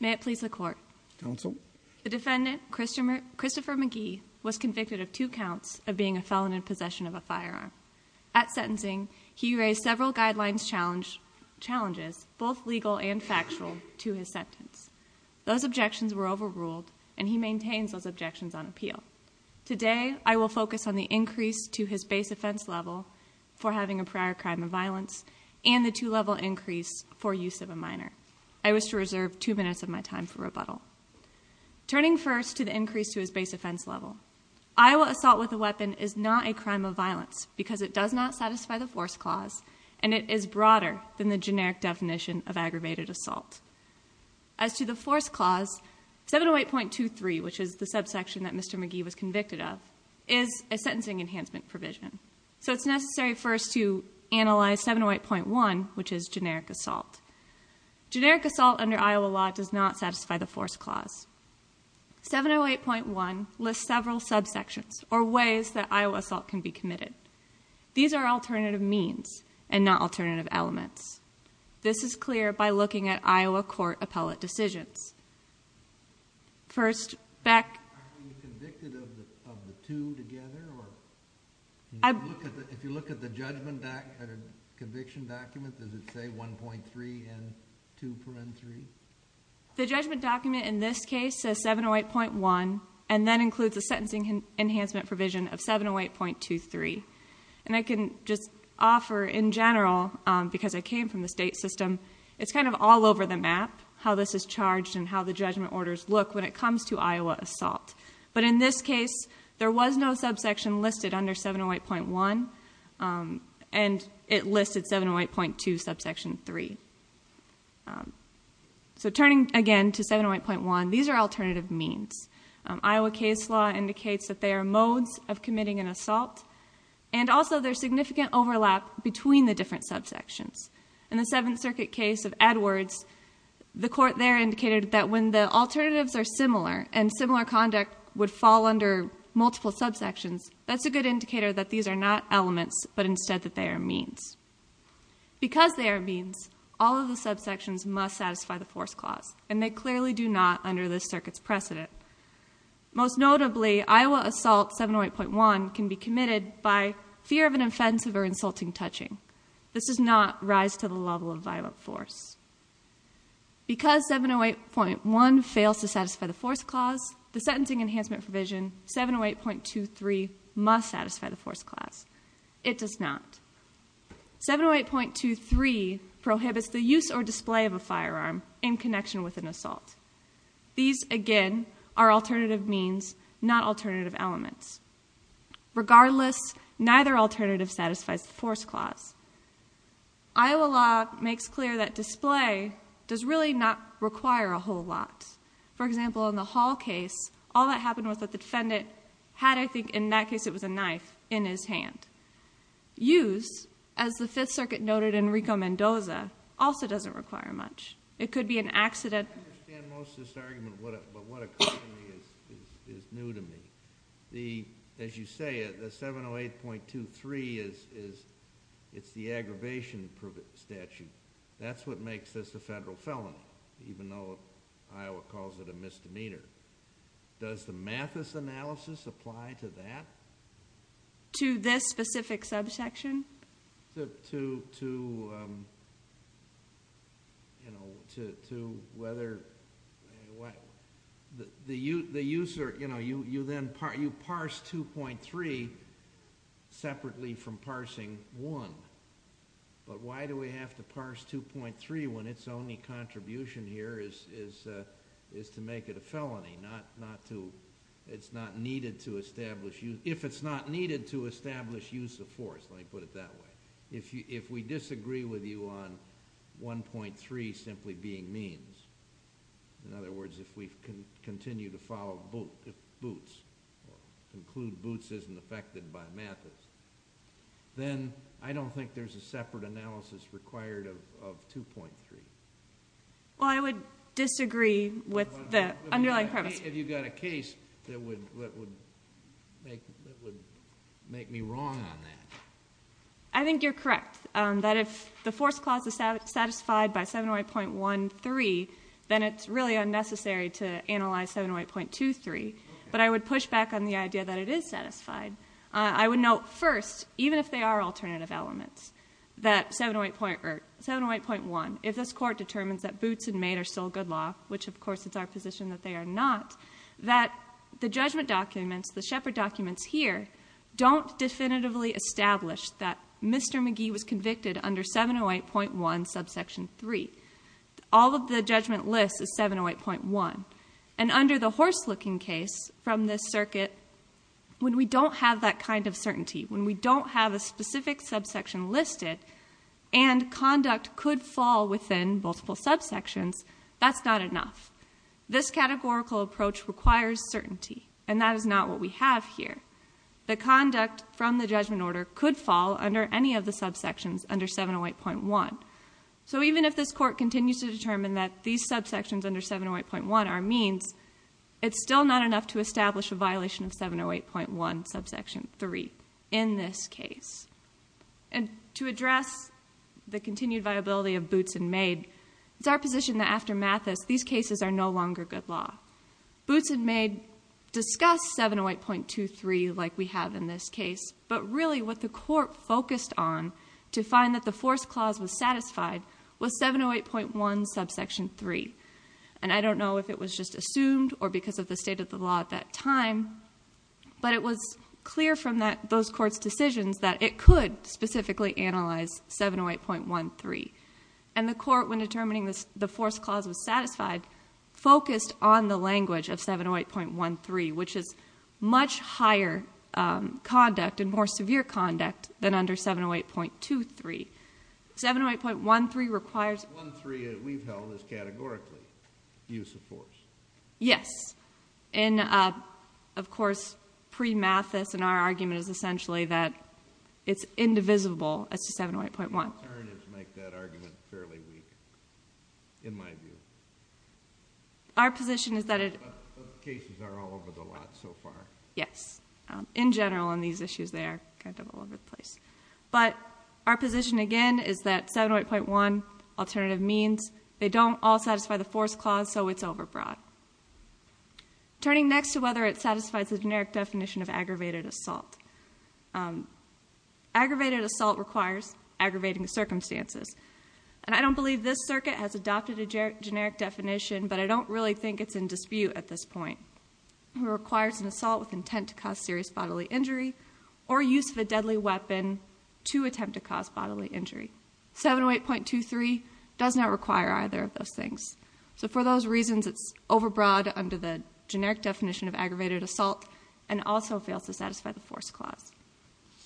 May it please the court. Counsel. The defendant Christopher McGee was convicted of two counts of being a felon in possession of a firearm. At sentencing he raised several guidelines challenges both legal and factual to his sentence. Those objections were overruled and he maintains those objections on appeal. Today I will focus on the increase to his base offense level for having a prior crime of violence and the two-level increase for use of a minor. I wish to reserve two minutes of my time for rebuttal. Turning first to the increase to his base offense level. Iowa assault with a weapon is not a crime of violence because it does not satisfy the force clause and it is broader than the generic definition of aggravated assault. As to the force clause 708.23 which is the subsection that Mr. McGee was convicted of is a sentencing enhancement provision. So it's necessary first to analyze 708.1 which is generic assault. Generic assault under Iowa law does not satisfy the force clause. 708.1 lists several subsections or ways that Iowa assault can be committed. These are alternative means and not alternative elements. This is clear by looking at Iowa court appellate decisions. First back convicted of the two together? If you look at the judgment back at a conviction document does it say 1.3 and 2.3? The judgment document in this case says 708.1 and then includes a sentencing enhancement provision of 708.23 and I can just offer in general because I came from the state system it's kind of all over the map how this is charged and how the judgment orders look when it comes to Iowa assault. But in this case there was no subsection listed under 708.1 and it listed 708.2 subsection 3. So turning again to 708.1 these are alternative means. Iowa case law indicates that they are modes of committing an assault and also there's significant overlap between the different subsections. In the Seventh Circuit case of Edwards the court there similar and similar conduct would fall under multiple subsections that's a good indicator that these are not elements but instead that they are means. Because they are means all of the subsections must satisfy the force clause and they clearly do not under this circuits precedent. Most notably Iowa assault 708.1 can be committed by fear of an offensive or insulting touching. This is not rise to the level of violent force. Because 708.1 fails to satisfy the force clause the sentencing enhancement provision 708.23 must satisfy the force clause. It does not. 708.23 prohibits the use or display of a firearm in connection with an assault. These again are alternative means not alternative elements. Regardless neither alternative satisfies the force clause. Iowa law makes clear that display does really not require a whole lot. For example in the Hall case all that happened was that the defendant had I think in that case it was a knife in his hand. Use as the Fifth Circuit noted in Rico Mendoza also doesn't require much. It could be an accident. I don't understand most of this argument but what occurs to me is new to me. As you say the 708.23 is it's the aggravation statute. That's what makes this a federal felony even though Iowa calls it a misdemeanor. Does the Mathis analysis apply to that? To this specific subsection? To whether the user you know you then parse 2.3 separately from parsing 1. But why do we have to parse 2.3 when its only contribution here is to make it a felony. It's not needed to establish use of force. Let me put it that way. If you if we disagree with you on 1.3 simply being means in other words if we can continue to follow Boots conclude Boots isn't affected by Mathis then I don't think there's a separate analysis required of 2.3. Well I would disagree with the underlying premise. Have you got a case that would make me wrong on that? I think you're correct that if the force clause is satisfied by 708.13 then it's really unnecessary to analyze 708.23 but I would push back on the idea that it is satisfied. I would note first even if they are alternative elements that 708.1 if this court determines that Boots and Maid are still good law which of course it's our position that they are not that the judgment documents the Shepard documents here don't definitively establish that Mr. McGee was convicted under 708.1 subsection 3. All of the judgment list is 708.1 and under the horse looking case from this circuit when we don't have that kind of certainty when we don't have a specific subsection listed and conduct could fall within multiple subsections that's not enough. This categorical approach requires certainty and that is not what we have here. The conduct from the judgment order could fall under any of the subsections under 708.1 so even if this court continues to determine that these subsections under 708.1 are means it's still not enough to establish a violation of 708.1 subsection 3 in this our position that after Mathis these cases are no longer good law. Boots and Maid discuss 708.23 like we have in this case but really what the court focused on to find that the force clause was satisfied was 708.1 subsection 3 and I don't know if it was just assumed or because of the state of the law at that time but it was clear from that those courts decisions that it could specifically analyze 708.13 and the court when determining this the force clause was satisfied focused on the language of 708.13 which is much higher conduct and more severe conduct than under 708.23. 708.13 requires 708.13 that we've held is categorically use of force. Yes and of course pre-Mathis and our position is that it is not divisible as to 708.1. Our position is that it yes in general in these issues they're kind of all over the place but our position again is that 708.1 alternative means they don't all satisfy the force clause so it's overbroad. Turning next to whether it satisfies the generic definition of aggravated assault aggravated assault requires aggravating circumstances and I don't believe this circuit has adopted a generic definition but I don't really think it's in dispute at this point. It requires an assault with intent to cause serious bodily injury or use of a deadly weapon to attempt to cause bodily injury. 708.23 does not require either of those things so for those reasons it's overbroad under the generic definition of aggravated assault and also fails to satisfy the force clause.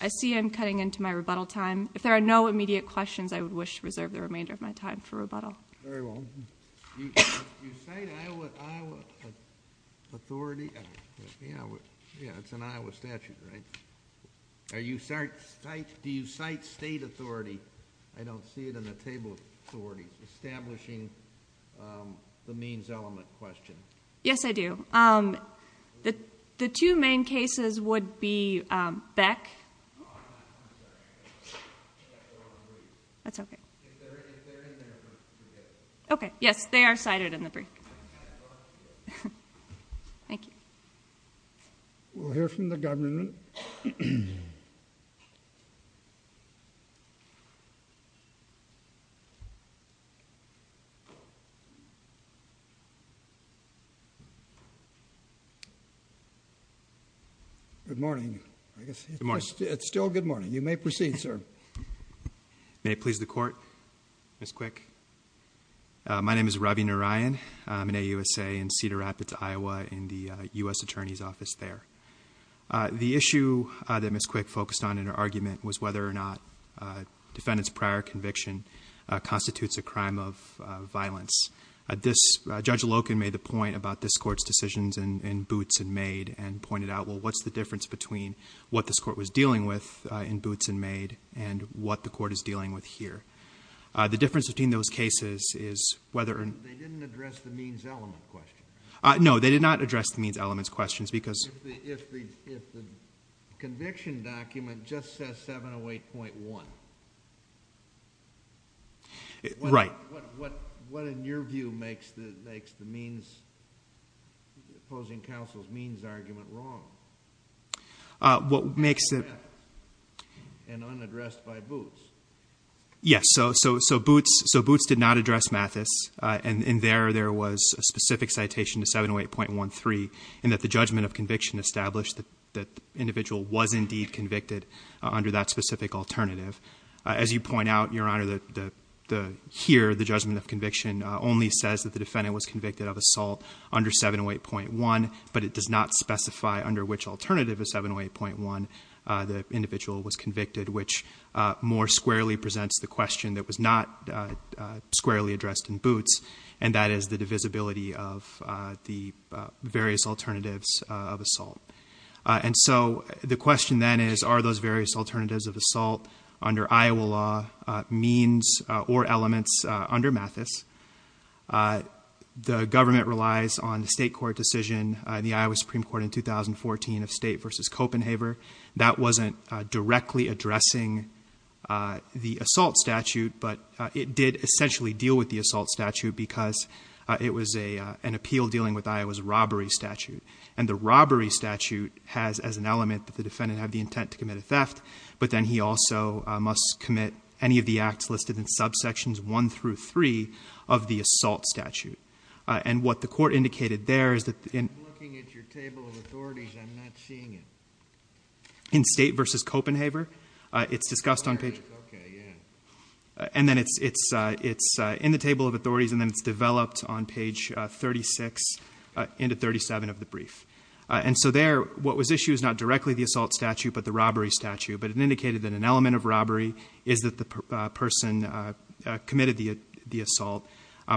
I see I'm cutting into my rebuttal time. If there are no immediate questions I would wish to reserve the remainder of my time for rebuttal. Do you cite state authority? I don't see it in the table of authorities. Establishing the means element question. Yes I do. The two main cases would be Beck. That's okay. Okay yes they are cited in the brief. Thank you. We'll hear from the government. Good morning. It's still good morning. You may proceed sir. May it please the court. Ms. Quick. My name is Ravi Narayan. I'm an AUSA in Cedar Rapids, Iowa in the U.S. Attorney's Office there. The issue that Ms. Quick focused on in her argument was whether or not defendants prior conviction constitutes a crime of this Court's decisions in Boots and Maid and pointed out well what's the difference between what this court was dealing with in Boots and Maid and what the court is dealing with here. The difference between those cases is whether or not. They didn't address the means element question. No they did not address the means elements questions because. If the conviction document just says 708.1. Right. What in your view makes the means opposing counsel's means argument wrong? What makes it. And unaddressed by Boots. Yes so Boots did not address Mathis and in there there was a specific citation to 708.13 and that the judgment of conviction established that the individual was indeed convicted under that specific alternative. As you point out your honor that the here the judgment of conviction only says that the defendant was under 708.1 but it does not specify under which alternative is 708.1 the individual was convicted which more squarely presents the question that was not squarely addressed in Boots and that is the divisibility of the various alternatives of assault. And so the question then is are those various alternatives of assault under Iowa law means or elements under Mathis. The government relies on the state court decision the Iowa Supreme Court in 2014 of state versus Copenhaver. That wasn't directly addressing the assault statute but it did essentially deal with the assault statute because it was a an appeal dealing with Iowa's robbery statute and the robbery statute has as an element that the defendant had the intent to commit a theft but then he also must commit any of the acts listed in subsections one through three of the assault statute and what the court indicated there is that in looking at your table of authorities I'm not seeing it in state versus Copenhaver it's discussed on page and then it's it's it's in the table of authorities and then it's developed on page 36 into 37 of the brief and so there what was issue is not directly the assault statute but the robbery statute but it indicated that an element of robbery is that the person committed the assault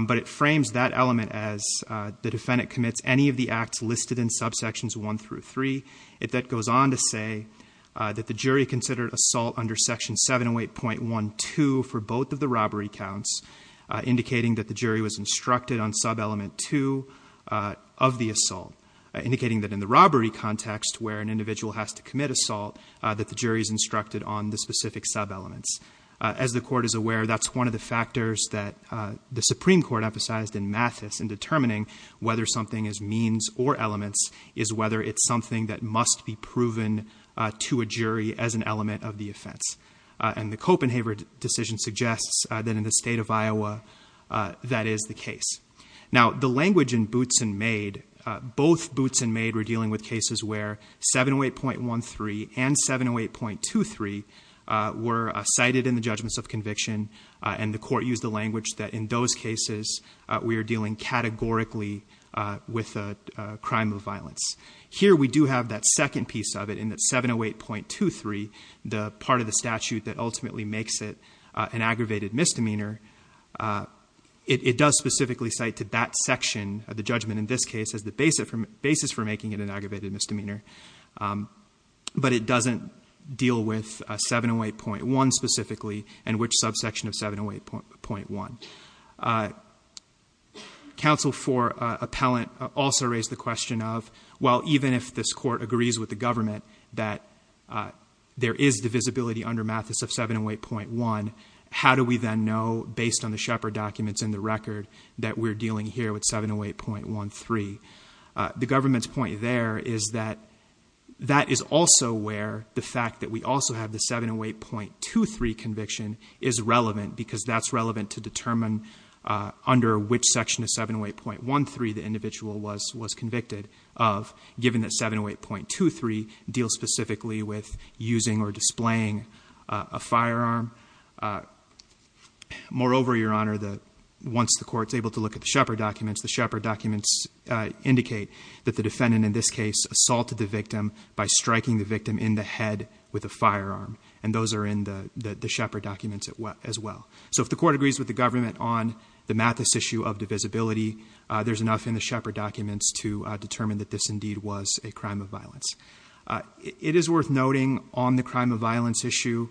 but it frames that element as the defendant commits any of the acts listed in subsections one through three it that goes on to say that the jury considered assault under section 708.12 for both of the robbery counts indicating that the jury was instructed on sub element two of the assault indicating that in the robbery context where an individual has to commit assault that the jury is instructed on the specific sub elements as the court is aware that's one of the factors that the Supreme Court emphasized in Mathis in determining whether something is means or elements is whether it's something that must be proven to a jury as an element of the offense and the Copenhaver decision suggests that in the state of Iowa that is the case now the language in Boots and Maid both Boots and Maid were dealing with cases where 708.13 and 708.23 were cited in the judgments of conviction and the court used the language that in those cases we are dealing categorically with a crime of violence here we do have that second piece of it in that 708.23 the part of the statute that ultimately makes it an aggravated misdemeanor it does specifically cite to that section of the misdemeanor but it doesn't deal with 708.1 specifically and which subsection of 708.1 counsel for appellant also raised the question of well even if this court agrees with the government that there is divisibility under Mathis of 708.1 how do we then know based on the shepherd documents in the record that we're dealing here with 708.13 the government's point there is that that is also where the fact that we also have the 708.23 conviction is relevant because that's relevant to determine under which section of 708.13 the individual was was convicted of given that 708.23 deals specifically with using or displaying a firearm uh moreover your honor the once the court's able to look at the shepherd documents the shepherd documents uh indicate that the defendant in this case assaulted the victim by striking the victim in the head with a firearm and those are in the the shepherd documents as well so if the court agrees with the government on the Mathis issue of divisibility there's enough in the shepherd documents to determine that this indeed was a crime of violence it is worth noting on the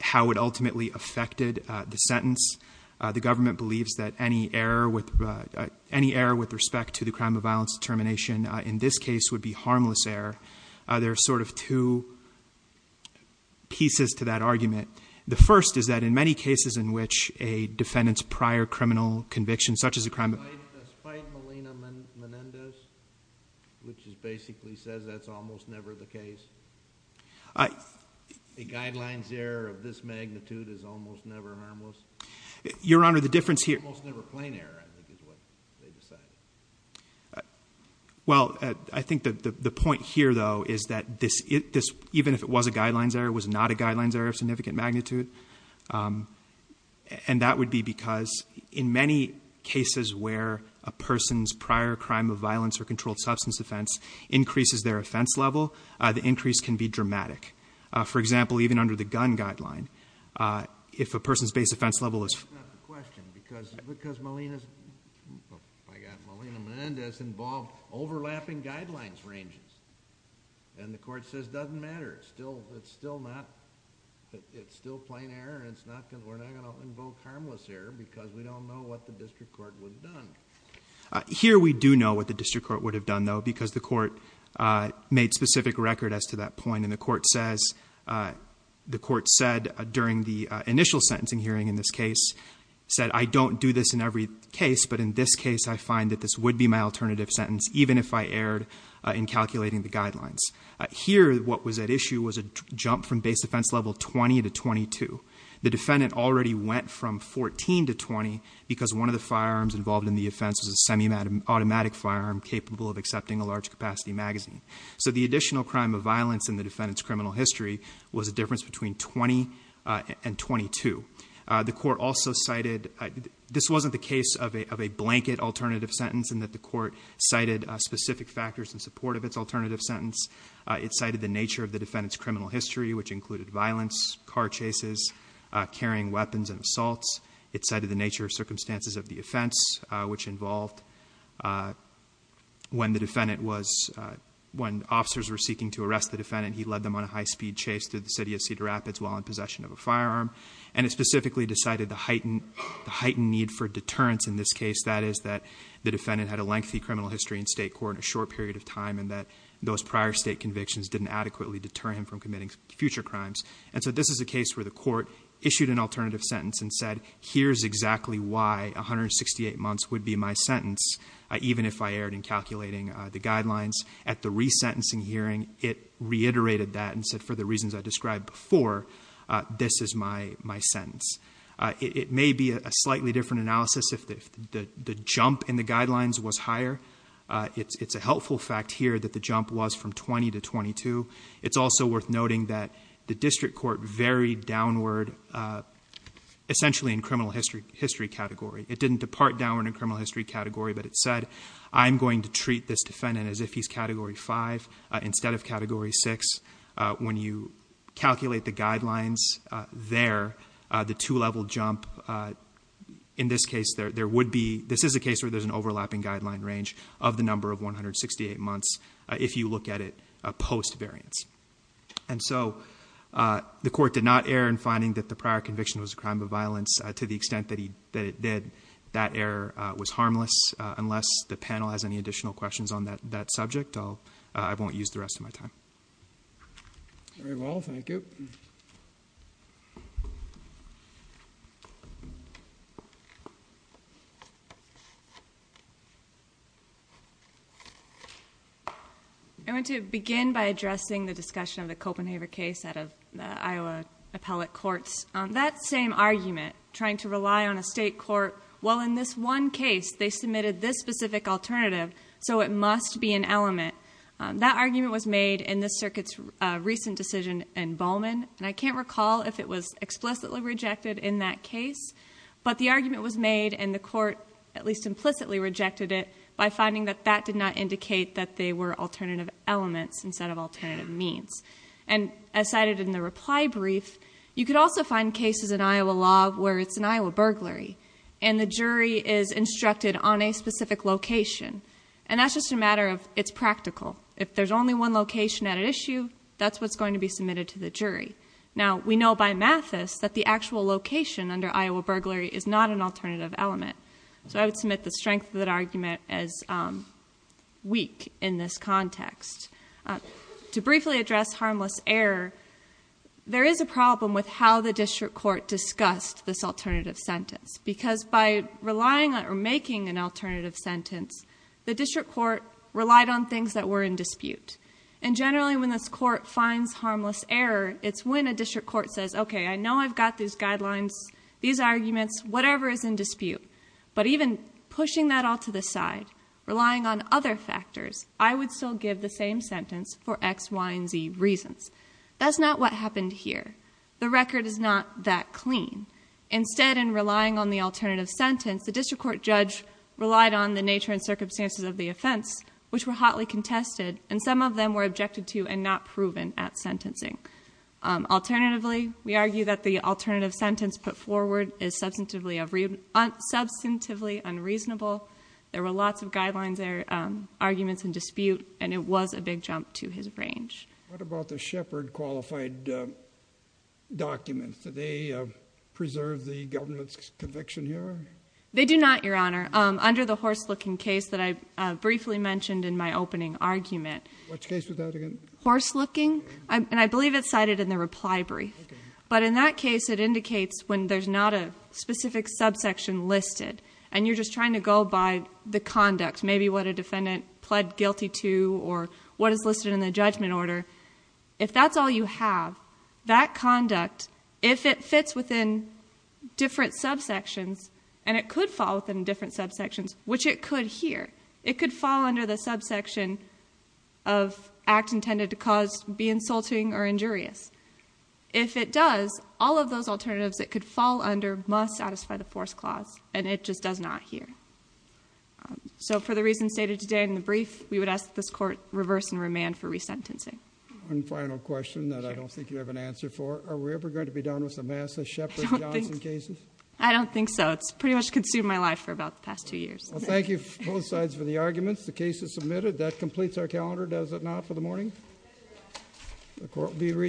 how it ultimately affected the sentence the government believes that any error with any error with respect to the crime of violence determination in this case would be harmless error there are sort of two pieces to that argument the first is that in many cases in which a defendant's prior criminal conviction such as a crime of spite malina menendez which is basically says that's almost never the case a guidelines error of this magnitude is almost never harmless your honor the difference here almost never plain error i think is what they decided well i think that the point here though is that this it this even if it was a guidelines error was not a guidelines error of significant magnitude um and that would be because in many cases where a person's prior crime of violence or controlled substance offense increases their offense level the increase can be dramatic for example even under the gun guideline if a person's base offense level is not the question because because malina i got malina menendez involved overlapping guidelines ranges and the court says doesn't matter it's still it's still not it's still plain error and it's not because we're not going to invoke harmless error because we don't know what the district would have done here we do know what the district court would have done though because the court uh made specific record as to that point and the court says uh the court said during the initial sentencing hearing in this case said i don't do this in every case but in this case i find that this would be my alternative sentence even if i erred in calculating the guidelines here what was at issue was a jump from base defense level 20 to 22 the defendant already went from 14 to 20 because one of the firearms involved in the offense was a semi-automatic firearm capable of accepting a large capacity magazine so the additional crime of violence in the defendant's criminal history was a difference between 20 and 22 the court also cited this wasn't the case of a of a blanket alternative sentence and that the court cited specific factors in support of its alternative sentence it cited the nature of the defendant's criminal history which included violence car chases uh carrying weapons and assaults it cited the nature of circumstances of the offense which involved uh when the defendant was when officers were seeking to arrest the defendant he led them on a high-speed chase through the city of cedar rapids while in possession of a firearm and it specifically decided the heightened heightened need for deterrence in this case that is that the defendant had a lengthy criminal history in state court in a short period of time and that those prior state convictions didn't adequately deter him from future crimes and so this is a case where the court issued an alternative sentence and said here's exactly why 168 months would be my sentence even if i erred in calculating the guidelines at the resentencing hearing it reiterated that and said for the reasons i described before this is my my sentence it may be a slightly different analysis if the the jump in the guidelines was higher it's it's a helpful fact here that the jump was from 20 to 22 it's also worth noting that the district court varied downward uh essentially in criminal history history category it didn't depart downward in criminal history category but it said i'm going to treat this defendant as if he's category five instead of category six uh when you calculate the guidelines uh there uh the two-level jump uh in this case there there would be this is a case where there's an overlapping guideline range of the number of 168 months if you look at it a post variance and so uh the court did not err in finding that the prior conviction was a crime of violence to the extent that he that it did that error was harmless unless the panel has any additional questions on that that subject i'll i won't use the rest of my time very well thank you i want to begin by addressing the discussion of the copenhaver case out of the iowa appellate courts on that same argument trying to rely on a state court well in this one case they submitted this specific alternative so it must be an element that argument was made in this circuit's recent decision in bowman and i can't recall if it was explicitly rejected in that case but the argument was made and the court at least implicitly rejected it by finding that that did not indicate that they were alternative elements instead of alternative means and as cited in the reply brief you could also find cases in iowa law where it's an iowa burglary and the jury is instructed on a specific location and that's just a matter of it's practical if there's only one location at an issue that's what's going to be submitted to the jury now we know by mathis that the actual location under iowa burglary is not an alternative element so i would submit the strength of that argument as um weak in this context to briefly address harmless error there is a problem with how the district court discussed this alternative sentence because by relying on or making an alternative sentence the district court relied on things that were in dispute and generally when this court finds harmless error it's when a district court says okay i know i've got these guidelines these arguments whatever is in dispute but even pushing that all to the side relying on other factors i would still give the same sentence for x y and z reasons that's not what happened here the record is not that clean instead in relying on the alternative sentence the district court judge relied on the nature and circumstances of the offense which were hotly contested and some of them were objected to and not proven at sentencing um alternatively we argue that the alternative sentence put forward is substantively every substantively unreasonable there were lots of guidelines there um arguments and dispute and it was a big jump to his range what about the shepherd qualified documents do they preserve the government's conviction here they do not your honor um under the horse looking case that i briefly mentioned in my opening argument which case was that again horse looking and i believe it's cited in the reply brief but in that case it indicates when there's not a specific subsection listed and you're just trying to go by the conduct maybe what a defendant pled guilty to or what is listed in the and it could fall within different subsections which it could hear it could fall under the subsection of act intended to cause be insulting or injurious if it does all of those alternatives that could fall under must satisfy the force clause and it just does not here so for the reasons stated today in the brief we would ask this court reverse and remand for resentencing one final question that i don't think you have an answer for are we ever going to be with the massive shepherd johnson cases i don't think so it's pretty much consumed my life for about the past two years well thank you both sides for the arguments the case is submitted that completes our calendar does it not for the morning the court will be